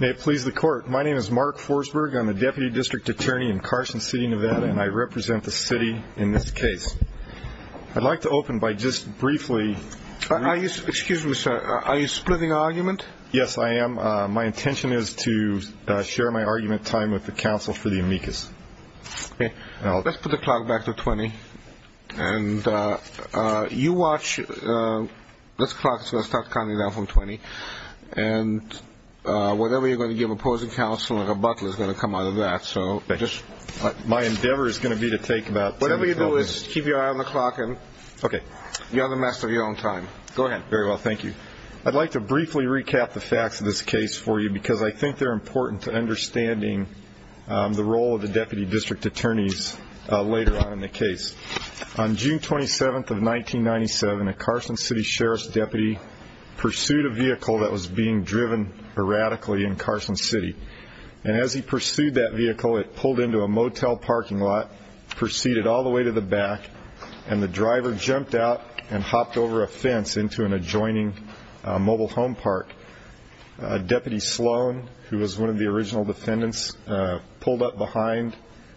May it please the court. My name is Mark Forsberg. I'm the Deputy District Attorney in Carson City, Nevada. And I represent the city in this case. I'd like to open by just briefly Are you, excuse me, sir, are you splitting argument? Yes, I am. My intention is to share my argument time with the counsel for the amicus. Okay. Let's put the clock back to 20. And you watch, this clock is going to start counting down from 20. And whatever you're going to give opposing counsel, a rebuttal is going to come out of that. My endeavor is going to be to take about 10 seconds. Whatever you do is keep your eye on the clock. Okay. You're in the midst of your own time. Go ahead. Very well. Thank you. I'd like to briefly recap the facts of this case for you because I think they're important to understanding the role of the Deputy District Attorneys later on in the case. On June 27th of 1997, a Carson City Sheriff's Deputy pursued a vehicle that was being driven erratically in Carson City. And as he pursued that vehicle, it pulled into a motel parking lot, proceeded all the way to the back, and the driver jumped out and hopped over a fence into an adjoining mobile home park. Deputy Sloan, who was one of the original defendants, pulled up behind,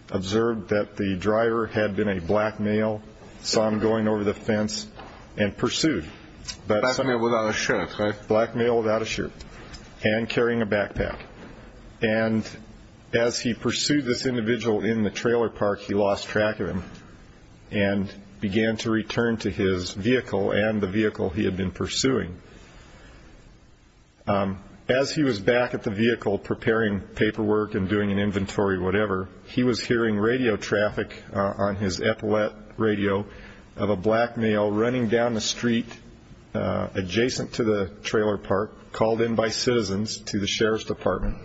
observed that the driver had been a black male, saw him going over the fence, and pursued. Black male without a shirt, right? Black male without a shirt and carrying a backpack. And as he pursued this individual in the trailer park, he lost track of him and began to return to his vehicle and the vehicle he had been pursuing. As he was back at the vehicle preparing paperwork and doing an inventory whatever, he was hearing radio traffic on his epaulette radio of a black male running down the street adjacent to the trailer park, called in by citizens to the Sheriff's Department.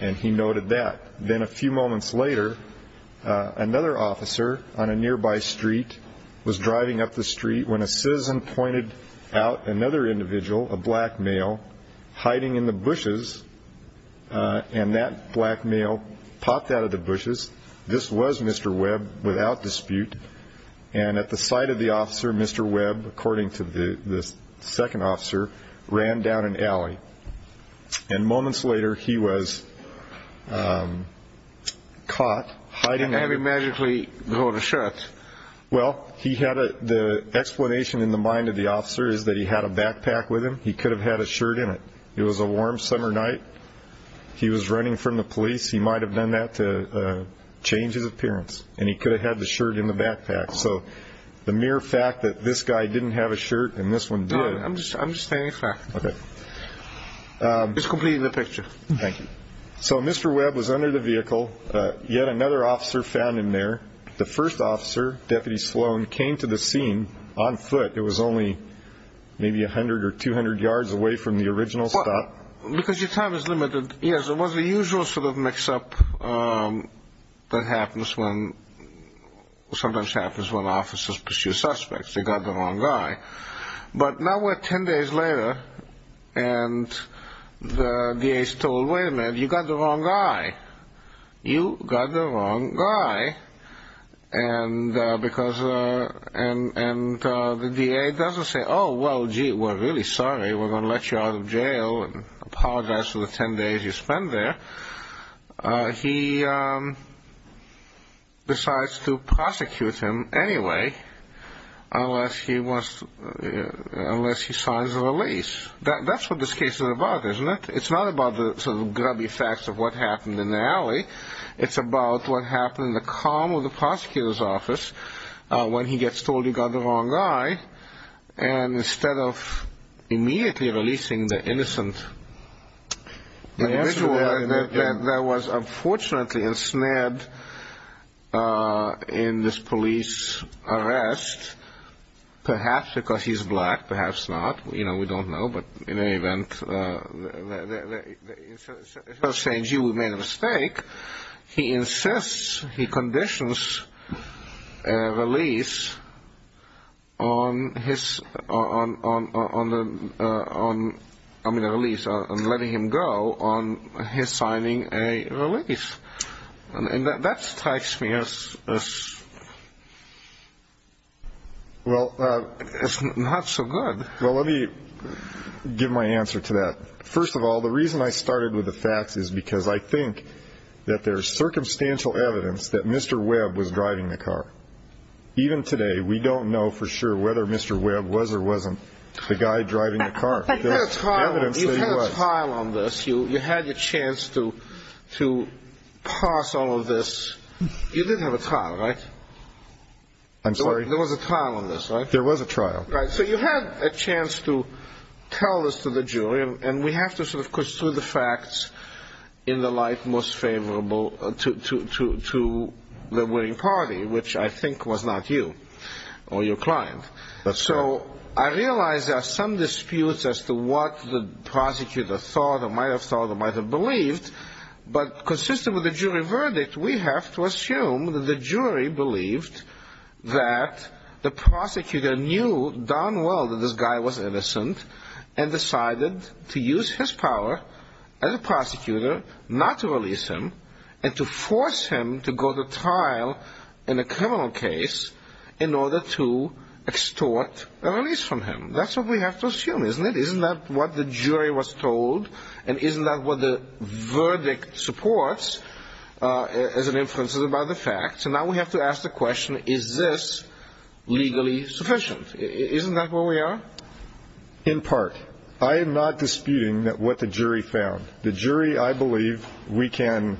And he noted that. Then a few moments later, another officer on a nearby street was driving up the street when a citizen pointed out another individual, a black male, hiding in the bushes. And that black male popped out of the bushes. This was Mr. Webb without dispute. And at the sight of the officer, Mr. Webb, according to the second officer, ran down an alley. And moments later, he was caught hiding. How did he magically go without a shirt? Well, the explanation in the mind of the officer is that he had a backpack with him. He could have had a shirt in it. It was a warm summer night. He was running from the police. He might have done that to change his appearance. And he could have had the shirt in the backpack. So the mere fact that this guy didn't have a shirt and this one did. I'm just stating a fact. Okay. It's complete in the picture. Thank you. So Mr. Webb was under the vehicle. Yet another officer found him there. The first officer, Deputy Sloan, came to the scene on foot. It was only maybe 100 or 200 yards away from the original stop. Because your time is limited. Yes, it was the usual sort of mix-up that happens when officers pursue suspects. They got the wrong guy. But now we're 10 days later, and the DA's told, Wait a minute, you got the wrong guy. You got the wrong guy. And the DA doesn't say, Oh, well, gee, we're really sorry. We're going to let you out of jail and apologize for the 10 days you spent there. He decides to prosecute him anyway, unless he signs a release. That's what this case is about, isn't it? It's not about the sort of grubby facts of what happened in the alley. It's about what happened in the calm of the prosecutor's office when he gets told you got the wrong guy. And instead of immediately releasing the innocent individual that was unfortunately ensnared in this police arrest, perhaps because he's black, perhaps not. You know, we don't know. But in any event, instead of saying, gee, we made a mistake, he insists, he conditions a release on his signing a release. And that strikes me as not so good. Well, let me give my answer to that. First of all, the reason I started with the facts is because I think that there's circumstantial evidence that Mr. Webb was driving the car. Even today, we don't know for sure whether Mr. Webb was or wasn't the guy driving the car. But you had a trial on this. You had your chance to pass all of this. You did have a trial, right? I'm sorry? There was a trial on this, right? There was a trial. So you had a chance to tell this to the jury. And we have to sort of pursue the facts in the light most favorable to the winning party, which I think was not you or your client. So I realize there are some disputes as to what the prosecutor thought or might have thought or might have believed. But consistent with the jury verdict, we have to assume that the jury believed that the prosecutor knew darn well that this guy was innocent and decided to use his power as a prosecutor not to release him and to force him to go to trial in a criminal case in order to extort a release from him. That's what we have to assume, isn't it? Isn't that what the jury was told? And isn't that what the verdict supports as an inference about the facts? So now we have to ask the question, is this legally sufficient? Isn't that where we are? In part. I am not disputing what the jury found. The jury, I believe, we can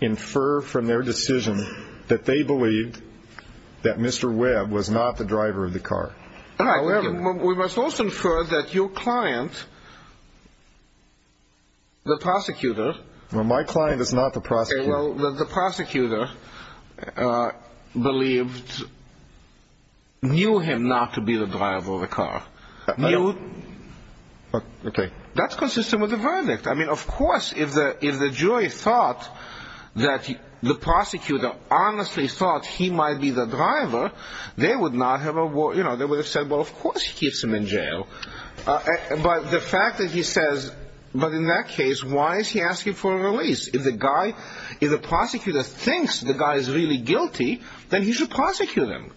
infer from their decision that they believed that Mr. Webb was not the driver of the car. We must also infer that your client, the prosecutor. Well, my client is not the prosecutor. The prosecutor believed, knew him not to be the driver of the car. Okay. That's consistent with the verdict. I mean, of course, if the jury thought that the prosecutor honestly thought he might be the driver, they would not have said, well, of course he keeps him in jail. But the fact that he says, but in that case, why is he asking for a release? If the prosecutor thinks the guy is really guilty, then he should prosecute him.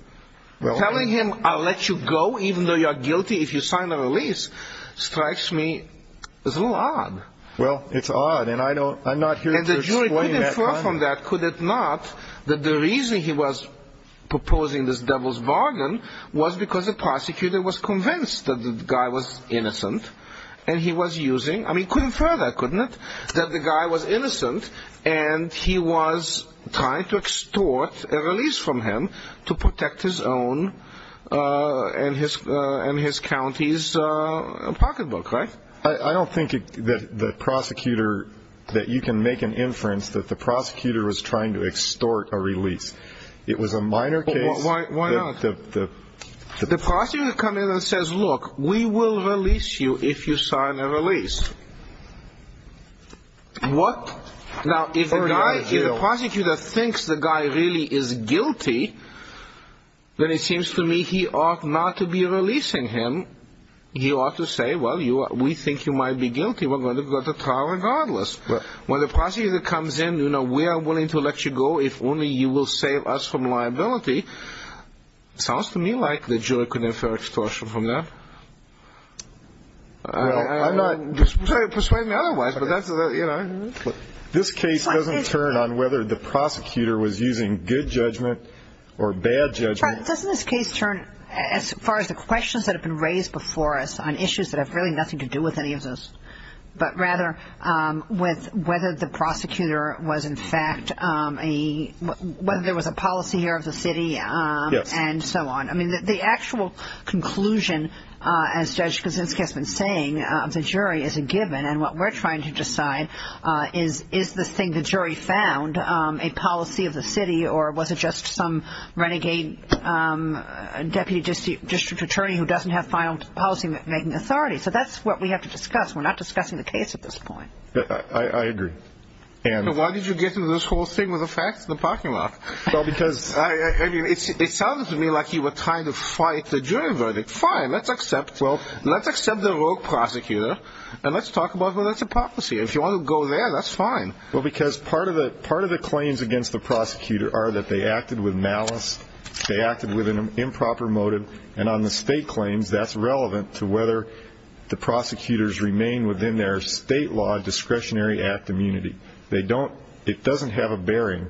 Telling him, I'll let you go even though you're guilty if you sign the release, strikes me as a little odd. Well, it's odd, and I'm not here to explain that. But the reason he was proposing this devil's bargain was because the prosecutor was convinced that the guy was innocent. And he was using, I mean, couldn't infer that, couldn't it? That the guy was innocent, and he was trying to extort a release from him to protect his own and his county's pocketbook, right? I don't think that the prosecutor, that you can make an inference that the prosecutor was trying to extort a release. It was a minor case. Why not? The prosecutor comes in and says, look, we will release you if you sign a release. What? Now, if the guy, if the prosecutor thinks the guy really is guilty, then it seems to me he ought not to be releasing him. He ought to say, well, we think you might be guilty. We're going to go to trial regardless. When the prosecutor comes in, you know, we are willing to let you go if only you will save us from liability. Sounds to me like the jury could infer extortion from that. I'm not persuading otherwise, but that's, you know. This case doesn't turn on whether the prosecutor was using good judgment or bad judgment. Doesn't this case turn, as far as the questions that have been raised before us on issues that have really nothing to do with any of this, but rather with whether the prosecutor was in fact a, whether there was a policy here of the city and so on? I mean, the actual conclusion, as Judge Kuczynski has been saying, of the jury is a given. And what we're trying to decide is, is the thing the jury found a policy of the city, or was it just some renegade deputy district attorney who doesn't have final policymaking authority? So that's what we have to discuss. We're not discussing the case at this point. I agree. Why did you get into this whole thing with the facts in the parking lot? Well, because, I mean, it sounded to me like you were trying to fight the jury verdict. Fine, let's accept, well, let's accept the rogue prosecutor. And let's talk about whether it's a policy. If you want to go there, that's fine. Well, because part of the claims against the prosecutor are that they acted with malice, they acted with an improper motive, and on the state claims, that's relevant to whether the prosecutors remain within their state law discretionary act immunity. It doesn't have a bearing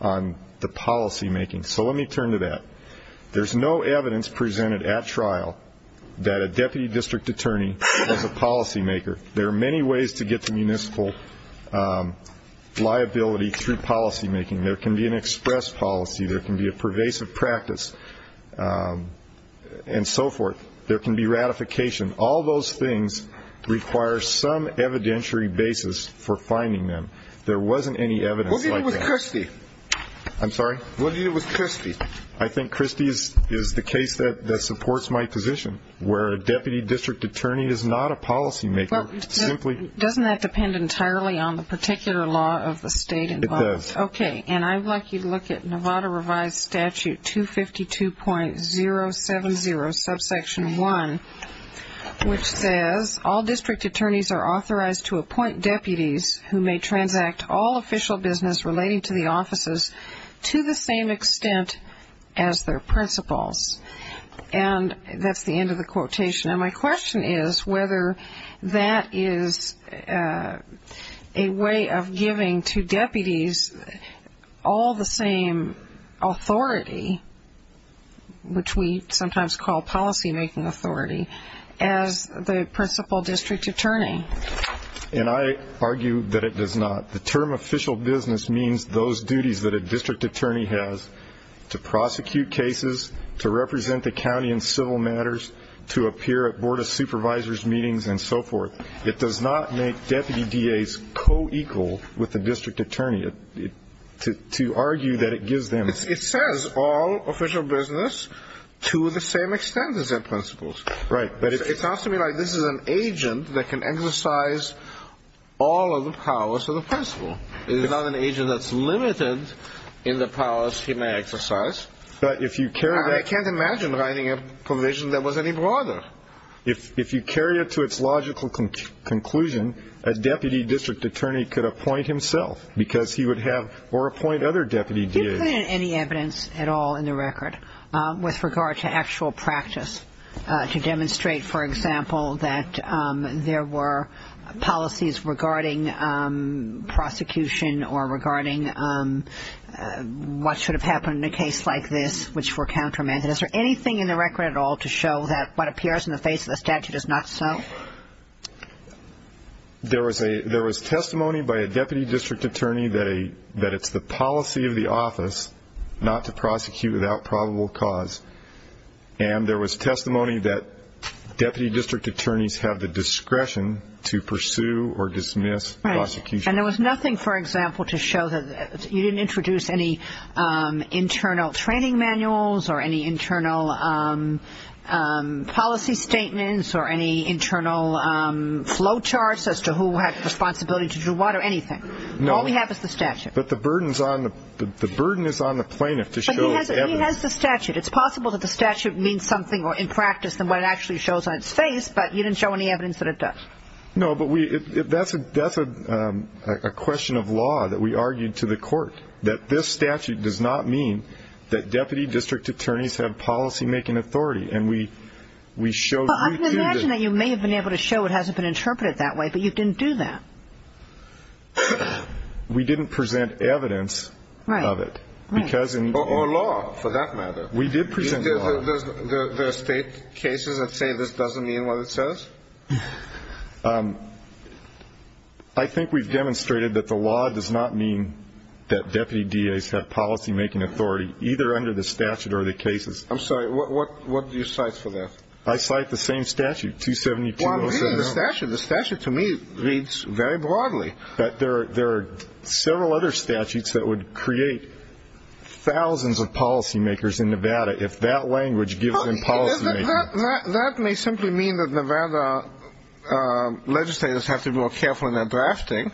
on the policymaking. So let me turn to that. There's no evidence presented at trial that a deputy district attorney was a policymaker. There are many ways to get to municipal liability through policymaking. There can be an express policy. There can be a pervasive practice and so forth. There can be ratification. All those things require some evidentiary basis for finding them. There wasn't any evidence like that. What did you do with Christie? I'm sorry? What did you do with Christie? I think Christie is the case that supports my position, where a deputy district attorney is not a policymaker, simply. Doesn't that depend entirely on the particular law of the state involved? It does. Okay. And I'd like you to look at Nevada revised statute 252.070 subsection 1, which says all district attorneys are authorized to appoint deputies who may transact all official business relating to the offices to the same extent as their principals. And that's the end of the quotation. And my question is whether that is a way of giving to deputies all the same authority, which we sometimes call policymaking authority, as the principal district attorney. And I argue that it does not. The term official business means those duties that a district attorney has to prosecute cases, to represent the county in civil matters, to appear at Board of Supervisors meetings and so forth. It does not make deputy DAs co-equal with the district attorney. To argue that it gives them. It says all official business to the same extent as their principals. Right. But it sounds to me like this is an agent that can exercise all of the powers of the principal. It is not an agent that's limited in the powers he may exercise. But if you carry that. I can't imagine writing a provision that was any broader. If you carry it to its logical conclusion, a deputy district attorney could appoint himself because he would have or appoint other deputy DAs. There isn't any evidence at all in the record with regard to actual practice to demonstrate, for example, that there were policies regarding prosecution or regarding what should have happened in a case like this, which were countermeasures. Is there anything in the record at all to show that what appears in the face of the statute is not so? There was testimony by a deputy district attorney that it's the policy of the office not to prosecute without probable cause. And there was testimony that deputy district attorneys have the discretion to pursue or dismiss prosecution. And there was nothing, for example, to show that you didn't introduce any internal training manuals or any internal policy statements or any internal flow charts as to who had responsibility to do what or anything. No. All we have is the statute. But the burden is on the plaintiff to show evidence. But he has the statute. It's possible that the statute means something in practice than what it actually shows on its face, but you didn't show any evidence that it does. No, but that's a question of law that we argued to the court, that this statute does not mean that deputy district attorneys have policymaking authority. And we showed we do. I can imagine that you may have been able to show it hasn't been interpreted that way, but you didn't do that. We didn't present evidence of it. Right. Or law, for that matter. We did present law. There are state cases that say this doesn't mean what it says? I think we've demonstrated that the law does not mean that deputy DAs have policymaking authority, either under the statute or the cases. I'm sorry. What do you cite for that? I cite the same statute, 272-07-0. The statute, to me, reads very broadly. There are several other statutes that would create thousands of policymakers in Nevada if that language gives them policymaking. That may simply mean that Nevada legislators have to be more careful in their drafting,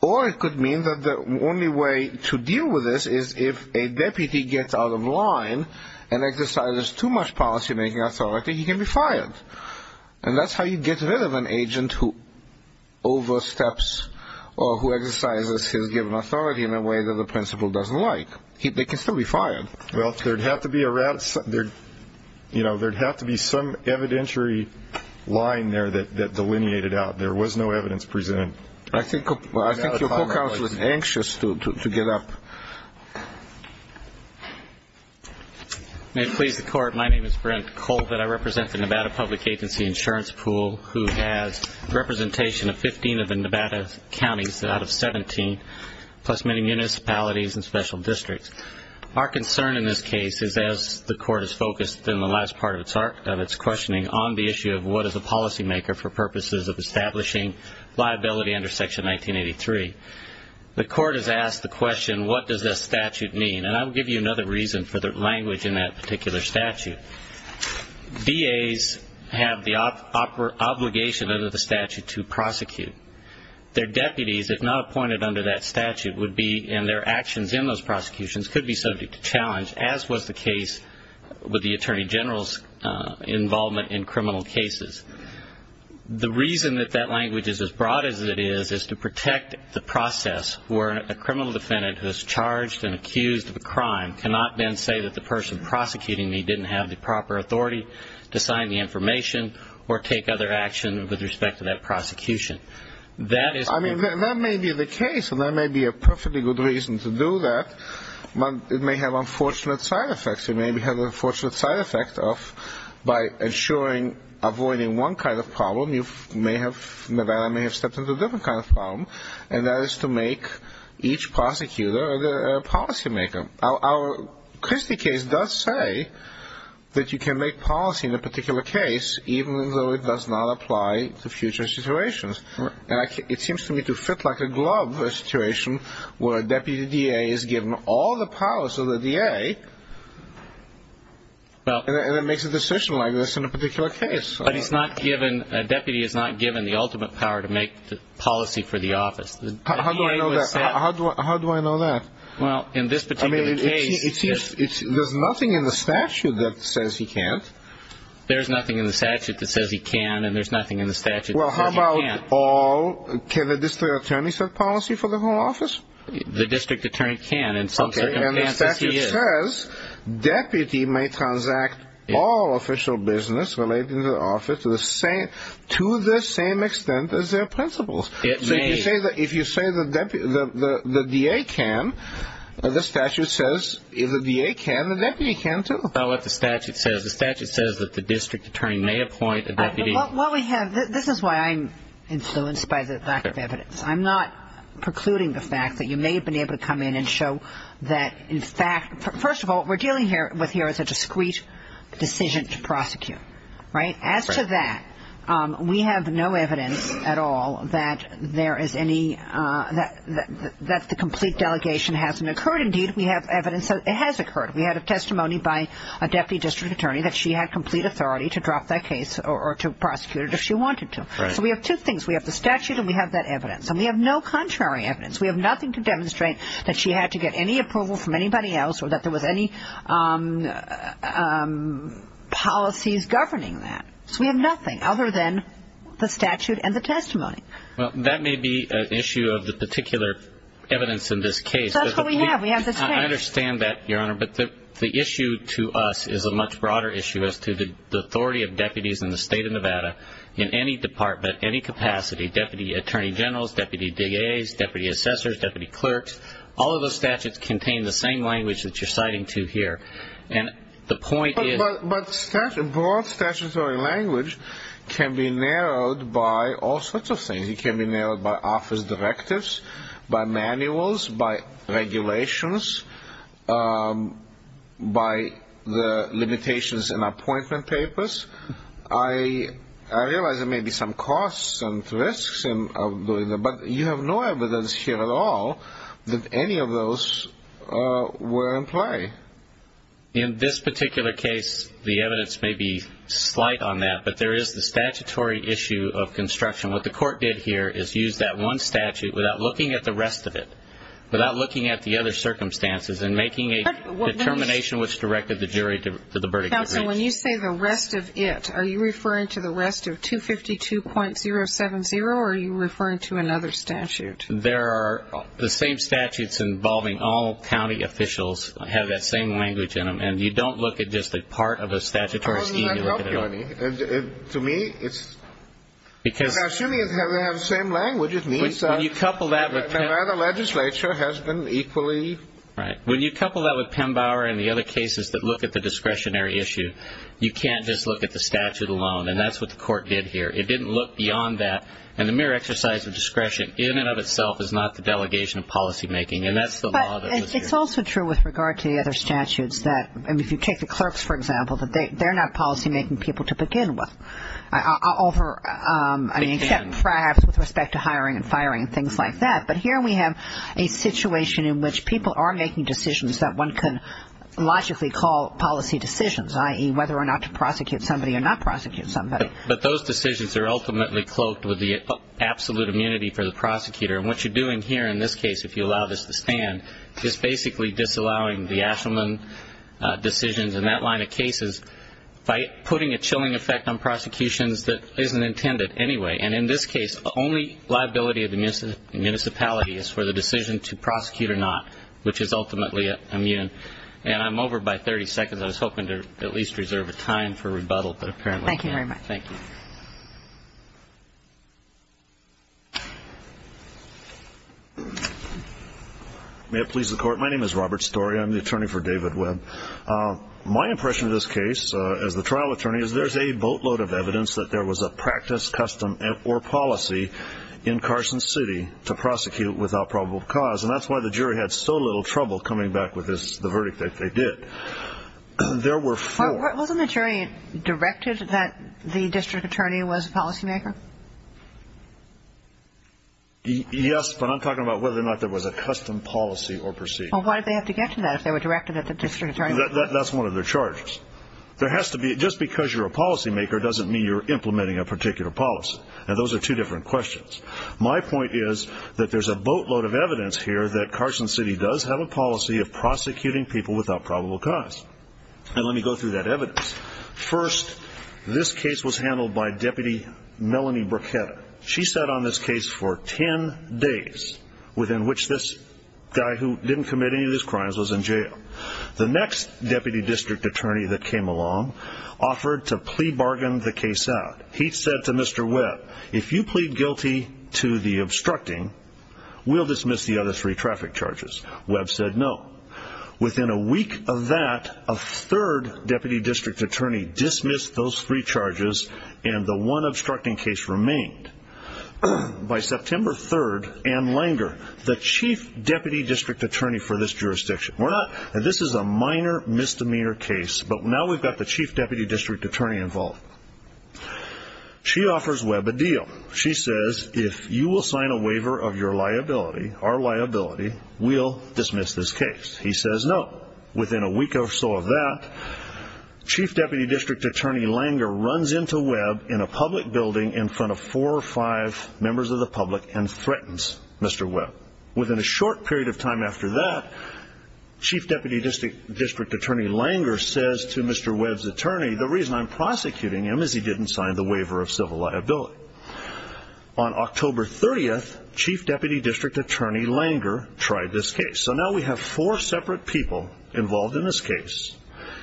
or it could mean that the only way to deal with this is if a deputy gets out of line and exercises too much policymaking authority, he can be fired. And that's how you get rid of an agent who oversteps or who exercises his given authority in a way that the principal doesn't like. They can still be fired. Well, there would have to be some evidentiary line there that delineated out. There was no evidence presented. I think your co-counsel is anxious to get up. May it please the Court, my name is Brent Colvitt. I represent the Nevada Public Agency Insurance Pool, who has representation of 15 of the Nevada counties out of 17, plus many municipalities and special districts. Our concern in this case is, as the Court has focused in the last part of its questioning on the issue of what is a policymaker for purposes of establishing liability under Section 1983, the Court has asked the question, what does this statute mean? And I will give you another reason for the language in that particular statute. DAs have the obligation under the statute to prosecute. Their deputies, if not appointed under that statute, would be and their actions in those prosecutions could be subject to challenge, as was the case with the Attorney General's involvement in criminal cases. The reason that that language is as broad as it is, is to protect the process where a criminal defendant who is charged and accused of a crime cannot then say that the person prosecuting me didn't have the proper authority to sign the information or take other action with respect to that prosecution. I mean, that may be the case, and that may be a perfectly good reason to do that, but it may have unfortunate side effects. It may have the unfortunate side effect of, by avoiding one kind of problem, Nevada may have stepped into a different kind of problem, and that is to make each prosecutor a policymaker. Our Christie case does say that you can make policy in a particular case, even though it does not apply to future situations. It seems to me to fit like a glove a situation where a deputy DA is given all the powers of the DA and then makes a decision like this in a particular case. But a deputy is not given the ultimate power to make policy for the office. How do I know that? Well, in this particular case... I mean, it seems there's nothing in the statute that says he can't. There's nothing in the statute that says he can, and there's nothing in the statute that says he can't. Well, how about all? Can the district attorney set policy for the whole office? The district attorney can in some circumstances. Okay, and the statute says deputy may transact all official business related to the office to the same extent as their principals. It may. If you say the DA can, the statute says if the DA can, the deputy can, too. That's not what the statute says. The statute says that the district attorney may appoint a deputy. This is why I'm influenced by the lack of evidence. I'm not precluding the fact that you may have been able to come in and show that, in fact, first of all, what we're dealing with here is a discrete decision to prosecute, right? That the complete delegation hasn't occurred. Indeed, we have evidence that it has occurred. We had a testimony by a deputy district attorney that she had complete authority to drop that case or to prosecute it if she wanted to. So we have two things. We have the statute and we have that evidence, and we have no contrary evidence. We have nothing to demonstrate that she had to get any approval from anybody else or that there was any policies governing that. So we have nothing other than the statute and the testimony. Well, that may be an issue of the particular evidence in this case. That's what we have. We have this case. I understand that, Your Honor, but the issue to us is a much broader issue as to the authority of deputies in the state of Nevada in any department, any capacity, deputy attorney generals, deputy DAs, deputy assessors, deputy clerks. All of those statutes contain the same language that you're citing to here. And the point is the statute. A broad statutory language can be narrowed by all sorts of things. It can be narrowed by office directives, by manuals, by regulations, by the limitations in appointment papers. I realize there may be some costs and risks of doing that, but you have no evidence here at all that any of those were in play. In this particular case, the evidence may be slight on that, but there is the statutory issue of construction. What the court did here is use that one statute without looking at the rest of it, without looking at the other circumstances and making a determination which directed the jury to the verdict it reached. Counsel, when you say the rest of it, are you referring to the rest of 252.070 or are you referring to another statute? There are the same statutes involving all county officials. They have that same language in them. And you don't look at just a part of a statutory scheme. How does that help you, Ernie? To me, it's assuming they have the same language, it means that another legislature has been equally. Right. When you couple that with Pembauer and the other cases that look at the discretionary issue, you can't just look at the statute alone, and that's what the court did here. It didn't look beyond that. And the mere exercise of discretion in and of itself is not the delegation of policymaking, and that's the law that was used. But it's also true with regard to the other statutes that if you take the clerks, for example, that they're not policymaking people to begin with, except perhaps with respect to hiring and firing and things like that. But here we have a situation in which people are making decisions that one can logically call policy decisions, i.e., whether or not to prosecute somebody or not prosecute somebody. But those decisions are ultimately cloaked with the absolute immunity for the prosecutor. And what you're doing here in this case, if you allow this to stand, is basically disallowing the Ashelman decisions and that line of cases by putting a chilling effect on prosecutions that isn't intended anyway. And in this case, the only liability of the municipality is for the decision to prosecute or not, which is ultimately immune. And I'm over by 30 seconds. I was hoping to at least reserve a time for rebuttal, but apparently I can't. Thank you very much. Thank you. May it please the Court. My name is Robert Storey. I'm the attorney for David Webb. My impression of this case as the trial attorney is there's a boatload of evidence that there was a practice, custom, or policy in Carson City to prosecute without probable cause. And that's why the jury had so little trouble coming back with the verdict that they did. There were four. Wasn't the jury directed that the district attorney was a policymaker? Yes, but I'm talking about whether or not there was a custom policy or procedure. Well, why did they have to get to that if they were directed that the district attorney was? That's one of their charges. Just because you're a policymaker doesn't mean you're implementing a particular policy, and those are two different questions. My point is that there's a boatload of evidence here that Carson City does have a policy of prosecuting people without probable cause. And let me go through that evidence. First, this case was handled by Deputy Melanie Bruchetta. She sat on this case for 10 days, within which this guy who didn't commit any of his crimes was in jail. The next deputy district attorney that came along offered to plea bargain the case out. He said to Mr. Webb, if you plead guilty to the obstructing, we'll dismiss the other three traffic charges. Webb said no. Within a week of that, a third deputy district attorney dismissed those three charges, and the one obstructing case remained. By September 3rd, Ann Langer, the chief deputy district attorney for this jurisdiction, this is a minor misdemeanor case, but now we've got the chief deputy district attorney involved. She offers Webb a deal. She says, if you will sign a waiver of your liability, our liability, we'll dismiss this case. He says no. Within a week or so of that, chief deputy district attorney Langer runs into Webb in a public building in front of four or five members of the public and threatens Mr. Webb. Within a short period of time after that, chief deputy district attorney Langer says to Mr. Webb's attorney, the reason I'm prosecuting him is he didn't sign the waiver of civil liability. On October 30th, chief deputy district attorney Langer tried this case. So now we have four separate people involved in this case,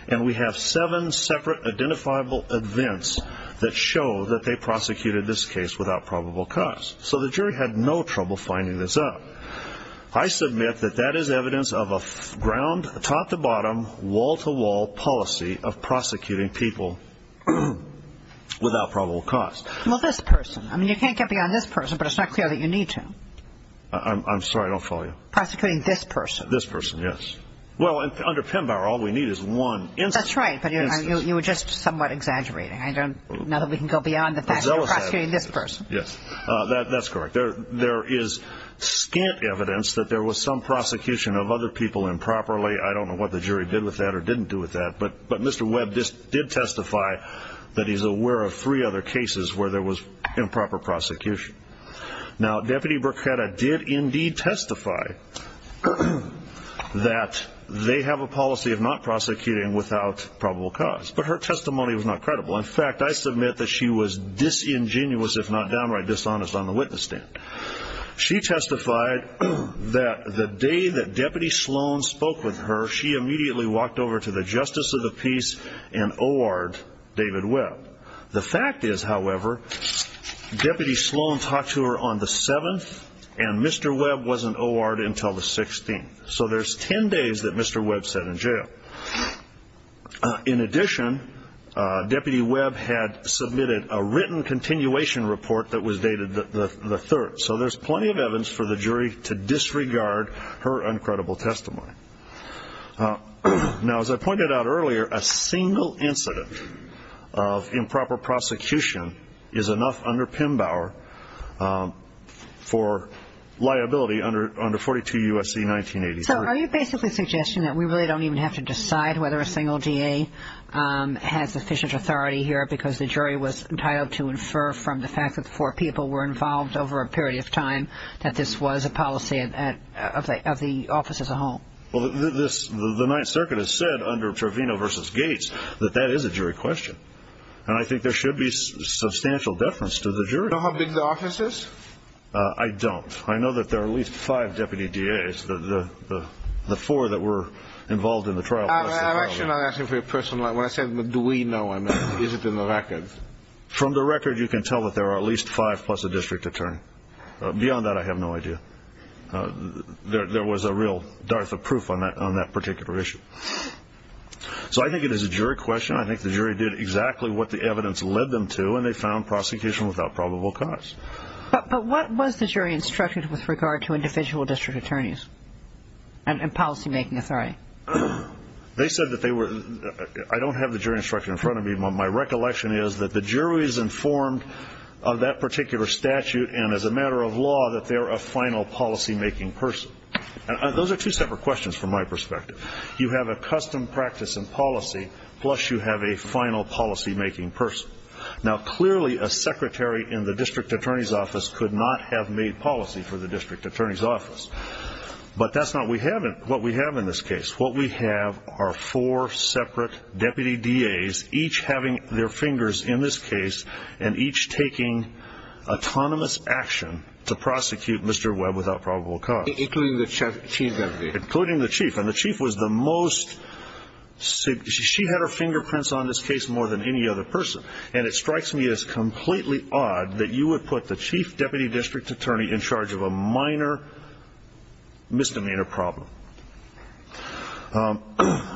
and we have seven separate identifiable events that show that they prosecuted this case without probable cause. So the jury had no trouble finding this out. I submit that that is evidence of a top-to-bottom, wall-to-wall policy of prosecuting people without probable cause. Well, this person. I mean, you can't get beyond this person, but it's not clear that you need to. I'm sorry. I don't follow you. Prosecuting this person. This person, yes. Well, under Pembauer, all we need is one instance. That's right, but you were just somewhat exaggerating. Now that we can go beyond the fact that you're prosecuting this person. Yes, that's correct. There is scant evidence that there was some prosecution of other people improperly. I don't know what the jury did with that or didn't do with that, but Mr. Webb did testify that he's aware of three other cases where there was improper prosecution. Now, Deputy Bruchetta did indeed testify that they have a policy of not prosecuting without probable cause, but her testimony was not credible. In fact, I submit that she was disingenuous, if not downright dishonest, on the witness stand. She testified that the day that Deputy Sloan spoke with her, she immediately walked over to the Justice of the Peace and O.R.ed David Webb. The fact is, however, Deputy Sloan talked to her on the 7th, and Mr. Webb wasn't O.R.ed until the 16th. So there's 10 days that Mr. Webb sat in jail. In addition, Deputy Webb had submitted a written continuation report that was dated the 3rd. So there's plenty of evidence for the jury to disregard her uncredible testimony. Now, as I pointed out earlier, a single incident of improper prosecution is enough under Pembauer for liability under 42 U.S.C. 1983. So are you basically suggesting that we really don't even have to decide whether a single DA has sufficient authority here because the jury was entitled to infer from the fact that four people were involved over a period of time that this was a policy of the office as a whole? Well, the Ninth Circuit has said under Trevino v. Gates that that is a jury question, and I think there should be substantial deference to the jury. Do you know how big the office is? I don't. I know that there are at least five deputy DAs, the four that were involved in the trial. I'm actually not asking for your personal knowledge. When I say do we know, I mean is it in the records? From the record, you can tell that there are at least five plus a district attorney. Beyond that, I have no idea. There was a real dearth of proof on that particular issue. So I think it is a jury question. I think the jury did exactly what the evidence led them to, and they found prosecution without probable cause. But what was the jury instructed with regard to individual district attorneys and policymaking authority? They said that they were ñ I don't have the jury instruction in front of me. My recollection is that the jury is informed of that particular statute, and as a matter of law that they're a final policymaking person. Those are two separate questions from my perspective. You have a custom practice in policy, plus you have a final policymaking person. Now, clearly a secretary in the district attorney's office could not have made policy for the district attorney's office. But that's not what we have in this case. What we have are four separate deputy DAs, each having their fingers in this case, and each taking autonomous action to prosecute Mr. Webb without probable cause. Including the chief deputy? Including the chief. And the chief was the most ñ she had her fingerprints on this case more than any other person. And it strikes me as completely odd that you would put the chief deputy district attorney in charge of a minor misdemeanor problem.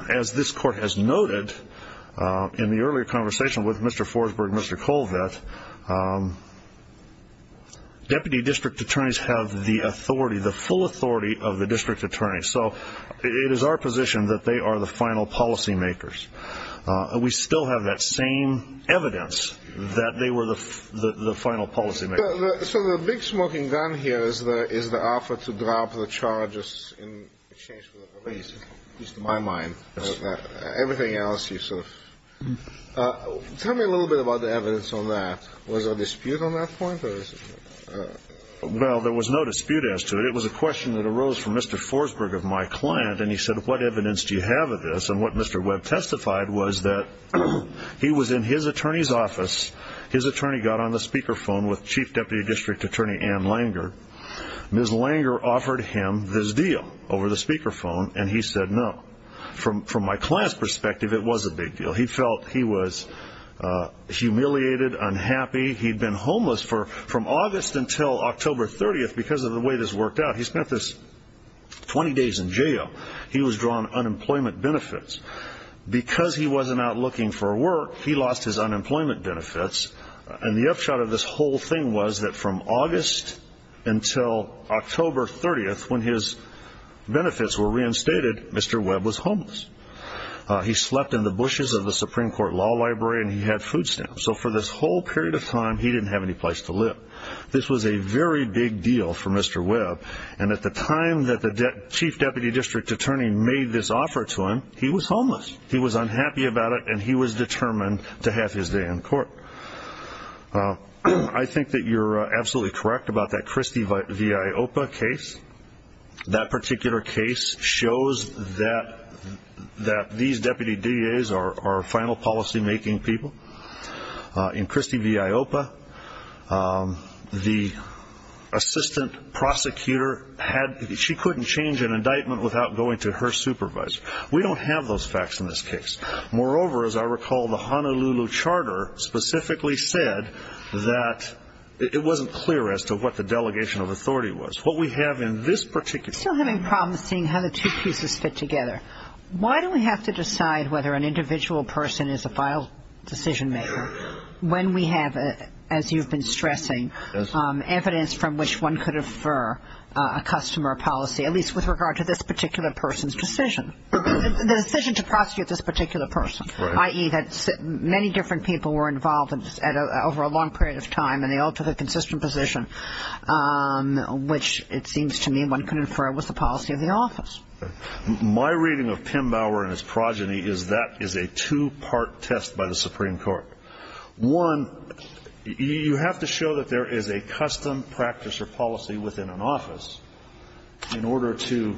As this court has noted in the earlier conversation with Mr. Forsberg and Mr. Colvett, deputy district attorneys have the authority, the full authority of the district attorney. So it is our position that they are the final policymakers. We still have that same evidence that they were the final policymakers. So the big smoking gun here is the offer to drop the charges in exchange for the release, at least in my mind. Everything else you sort of ñ tell me a little bit about the evidence on that. Was there a dispute on that point? Well, there was no dispute as to it. It was a question that arose from Mr. Forsberg of my client, and he said, ìWhat evidence do you have of this?î And what Mr. Webb testified was that he was in his attorneyís office. His attorney got on the speakerphone with chief deputy district attorney Ann Langer. Ms. Langer offered him this deal over the speakerphone, and he said no. From my clientís perspective, it was a big deal. He felt he was humiliated, unhappy. Heíd been homeless from August until October 30th because of the way this worked out. He spent this 20 days in jail. He was drawn unemployment benefits. Because he wasnít out looking for work, he lost his unemployment benefits. And the upshot of this whole thing was that from August until October 30th, when his benefits were reinstated, Mr. Webb was homeless. He slept in the bushes of the Supreme Court Law Library, and he had food stamps. So for this whole period of time, he didnít have any place to live. This was a very big deal for Mr. Webb. And at the time that the chief deputy district attorney made this offer to him, he was homeless. He was unhappy about it, and he was determined to have his day in court. I think that youíre absolutely correct about that Christie v. Iopa case. That particular case shows that these deputy DAs are final policymaking people. In Christie v. Iopa, the assistant prosecutor hadó she couldnít change an indictment without going to her supervisor. We donít have those facts in this case. Moreover, as I recall, the Honolulu Charter specifically said that it wasnít clear as to what the delegation of authority was. What we have in this particular caseó Still having problems seeing how the two pieces fit together. Why do we have to decide whether an individual person is a final decision maker when we have, as youíve been stressing, evidence from which one could infer a customer policy, at least with regard to this particular personís decision, the decision to prosecute this particular person, i.e., that many different people were involved over a long period of time, and they all took a consistent position, which it seems to me one could infer was the policy of the office. My reading of Pim Bauer and his progeny is that is a two-part test by the Supreme Court. One, you have to show that there is a custom practice or policy within an office in order to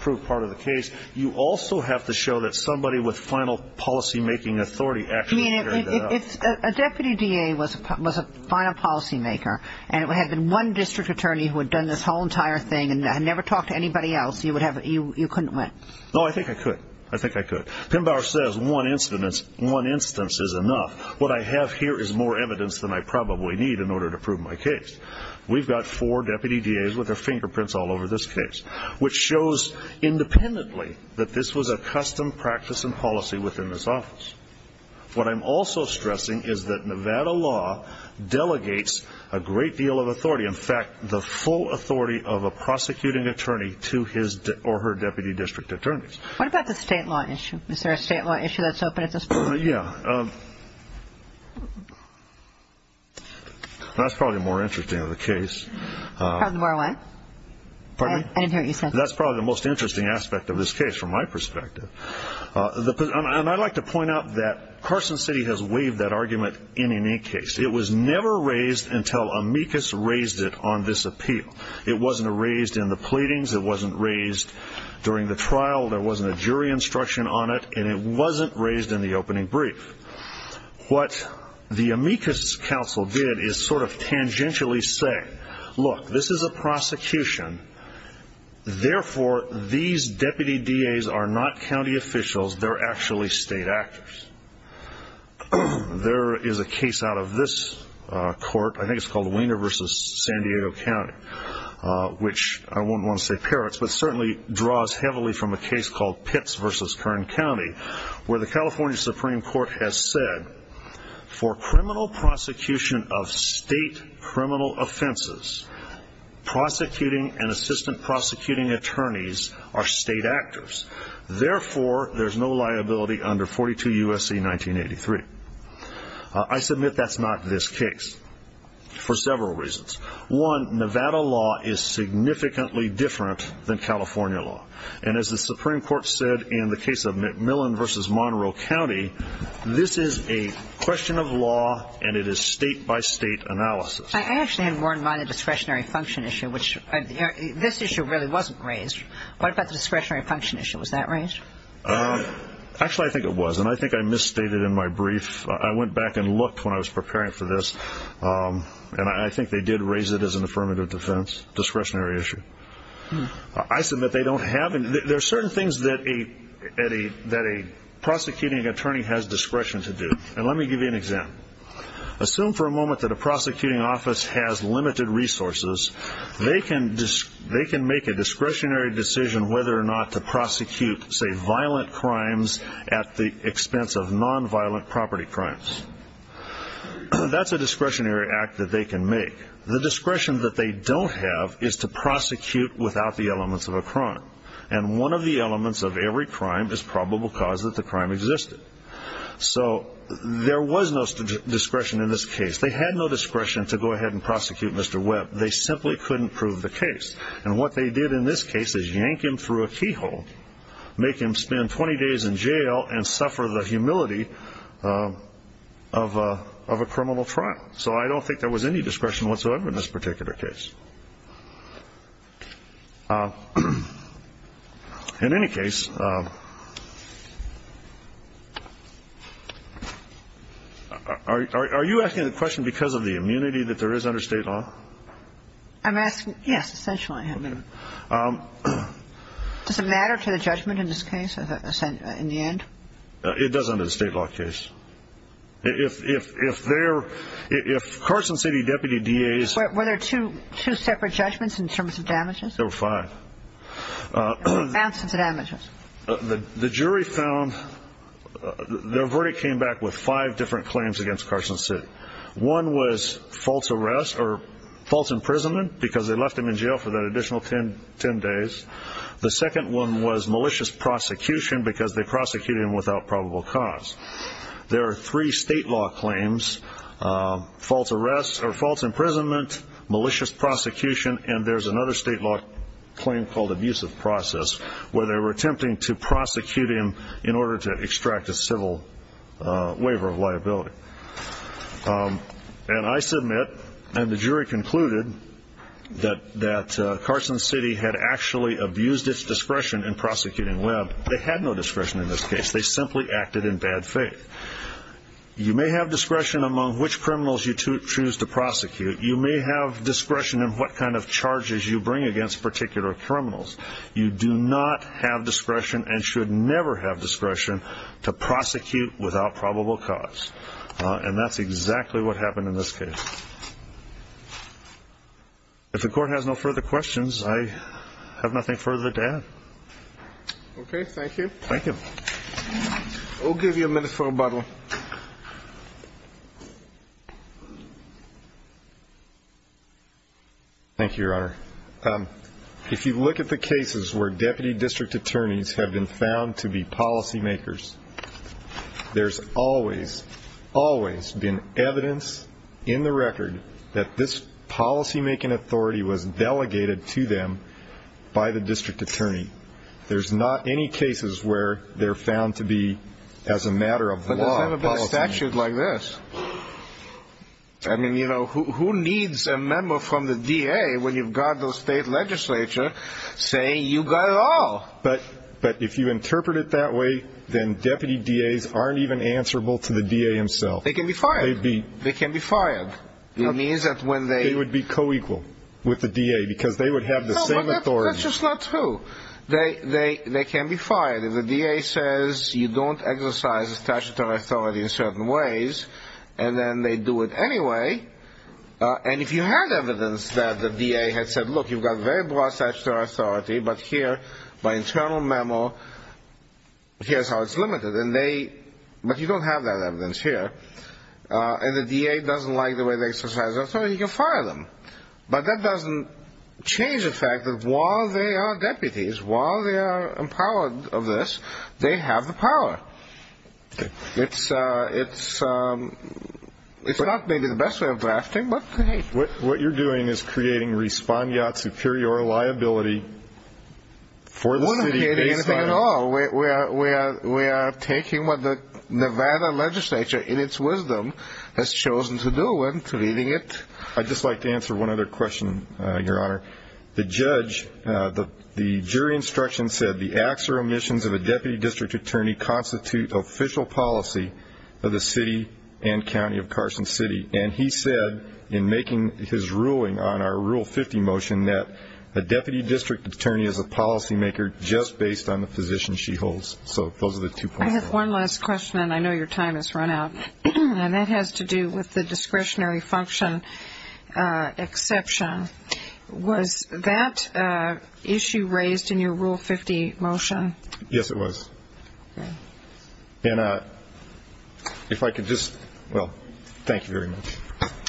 prove part of the case. You also have to show that somebody with final policymaking authority actually carried it out. I mean, a deputy DA was a final policymaker, and it had been one district attorney who had done this whole entire thing and had never talked to anybody else. You couldnít win. No, I think I could. I think I could. Pim Bauer says one instance is enough. What I have here is more evidence than I probably need in order to prove my case. Weíve got four deputy DAs with their fingerprints all over this case, which shows independently that this was a custom practice and policy within this office. What Iím also stressing is that Nevada law delegates a great deal of authority, in fact, the full authority of a prosecuting attorney to his or her deputy district attorneys. What about the state law issue? Is there a state law issue thatís open at this point? Yeah. Thatís probably more interesting of the case. More what? Pardon me? I didnít hear what you said. Thatís probably the most interesting aspect of this case from my perspective. And Iíd like to point out that Carson City has waived that argument in any case. It was never raised until amicus raised it on this appeal. It wasnít raised in the pleadings. It wasnít raised during the trial. There wasnít a jury instruction on it. And it wasnít raised in the opening brief. What the amicus council did is sort of tangentially say, look, this is a prosecution. Therefore, these deputy DAs are not county officials. Theyíre actually state actors. There is a case out of this court. I think itís called Weiner v. San Diego County, which I wouldnít want to say parrots, but certainly draws heavily from a case called Pitts v. Kern County, where the California Supreme Court has said for criminal prosecution of state criminal offenses, prosecuting and assistant prosecuting attorneys are state actors. Therefore, thereís no liability under 42 U.S.C. 1983. I submit thatís not this case for several reasons. One, Nevada law is significantly different than California law. And as the Supreme Court said in the case of McMillan v. Monroe County, this is a question of law and it is state-by-state analysis. I actually had more in mind the discretionary function issue, which this issue really wasnít raised. What about the discretionary function issue? Was that raised? Actually, I think it was, and I think I misstated in my brief. I went back and looked when I was preparing for this, and I think they did raise it as an affirmative defense, discretionary issue. I submit they donít haveóthere are certain things that a prosecuting attorney has discretion to do, and let me give you an example. Assume for a moment that a prosecuting office has limited resources. They can make a discretionary decision whether or not to prosecute, say, violent crimes at the expense of nonviolent property crimes. Thatís a discretionary act that they can make. The discretion that they donít have is to prosecute without the elements of a crime, and one of the elements of every crime is probable cause that the crime existed. So there was no discretion in this case. They had no discretion to go ahead and prosecute Mr. Webb. They simply couldnít prove the case, and what they did in this case is yank him through a keyhole, make him spend 20 days in jail, and suffer the humility of a criminal trial. So I donít think there was any discretion whatsoever in this particular case. In any case, are you asking the question because of the immunity that there is under State law? Iím askingóyes, essentially. Does it matter to the judgment in this case, in the end? It does under the State law case. If thereóif Carson City deputy DAsó Were there two separate judgments in terms of damages? There were five. Amounts of damages. The jury foundótheir verdict came back with five different claims against Carson City. One was false arrest or false imprisonment because they left him in jail for that additional 10 days. The second one was malicious prosecution because they prosecuted him without probable cause. There are three State law claimsófalse arrest or false imprisonment, malicious prosecutionó and thereís another State law claim called abusive process where they were attempting to prosecute him in order to extract a civil waiver of liability. And I submitóand the jury concludedóthat Carson City had actually abused its discretion in prosecuting Webb. They had no discretion in this case. They simply acted in bad faith. You may have discretion among which criminals you choose to prosecute. You may have discretion in what kind of charges you bring against particular criminals. You do not have discretion and should never have discretion to prosecute without probable cause. And thatís exactly what happened in this case. If the Court has no further questions, I have nothing further to add. Okay, thank you. Thank you. Weíll give you a minute for rebuttal. Thank you, Your Honor. If you look at the cases where deputy district attorneys have been found to be policymakers, thereís always, always been evidence in the record that this policymaking authority was delegated to them by the district attorney. Thereís not any cases where theyíre found to be, as a matter of law, policymakers. But they donít have a statute like this. I mean, you know, who needs a member from the DA when youíve got the State legislature saying, ìYou got it all.î But if you interpret it that way, then deputy DAs arenít even answerable to the DA himself. They can be fired. They can be fired. It means that when theyó They would be co-equal with the DA because they would have the same authority. No, but thatís just not true. They can be fired. If the DA says, ìYou donít exercise statutory authority in certain ways,î and then they do it anyway, and if you had evidence that the DA had said, ìLook, youíve got very broad statutory authority, but here, by internal memo, hereís how itís limited,î and theyó But you donít have that evidence here. And the DA doesnít like the way they exercise their authority, you fire them. But that doesnít change the fact that while they are deputies, while they are empowered of this, they have the power. Itís not maybe the best way of drafting, but hey. What youíre doing is creating respondeat superior liability for the city based onó Weíre not creating anything at all. We are taking what the Nevada legislature, in its wisdom, has chosen to do and treating itó Iíd just like to answer one other question, Your Honor. The judge, the jury instruction said, ìThe acts or omissions of a deputy district attorney constitute official policy of the city and county of Carson City.î And he said, in making his ruling on our Rule 50 motion, that a deputy district attorney is a policymaker just based on the position she holds. So those are the two points. I have one last question, and I know your time has run out. And that has to do with the discretionary function exception. Was that issue raised in your Rule 50 motion? Yes, it was. And if I could justówell, thank you very much.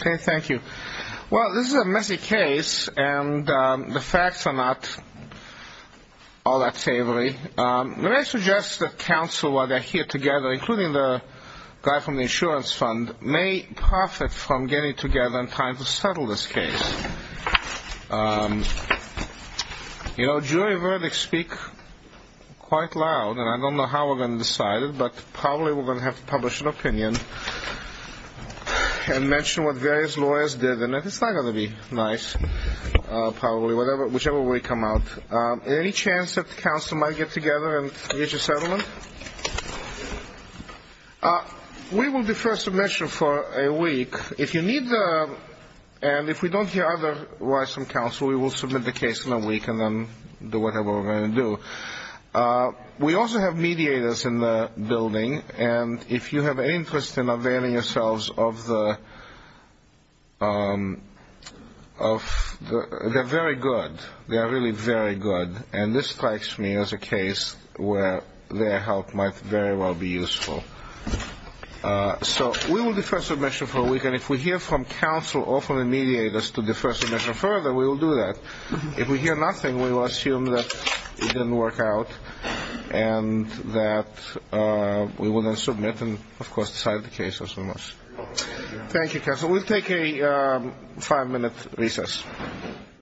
Okay, thank you. Well, this is a messy case, and the facts are not all that savory. Let me suggest that counsel, while theyíre here together, including the guy from the insurance fund, may profit from getting together and trying to settle this case. You know, jury verdicts speak quite loud, and I donít know how weíre going to decide it, but probably weíre going to have to publish an opinion and mention what various lawyers did. And thatís not going to be nice, probably, whichever way it comes out. Is there any chance that counsel might get together and reach a settlement? We will defer submission for a week. Look, if you needóand if we donít hear otherwise from counsel, we will submit the case in a week and then do whatever weíre going to do. We also have mediators in the building, and if you have any interest in availing yourselves of theótheyíre very good. They are really very good. And this strikes me as a case where their help might very well be useful. So we will defer submission for a week, and if we hear from counsel or from the mediators to defer submission further, we will do that. If we hear nothing, we will assume that it didnít work out and that we will then submit and, of course, decide the case as we must. Thank you, counsel. Weíll take a five-minute recess.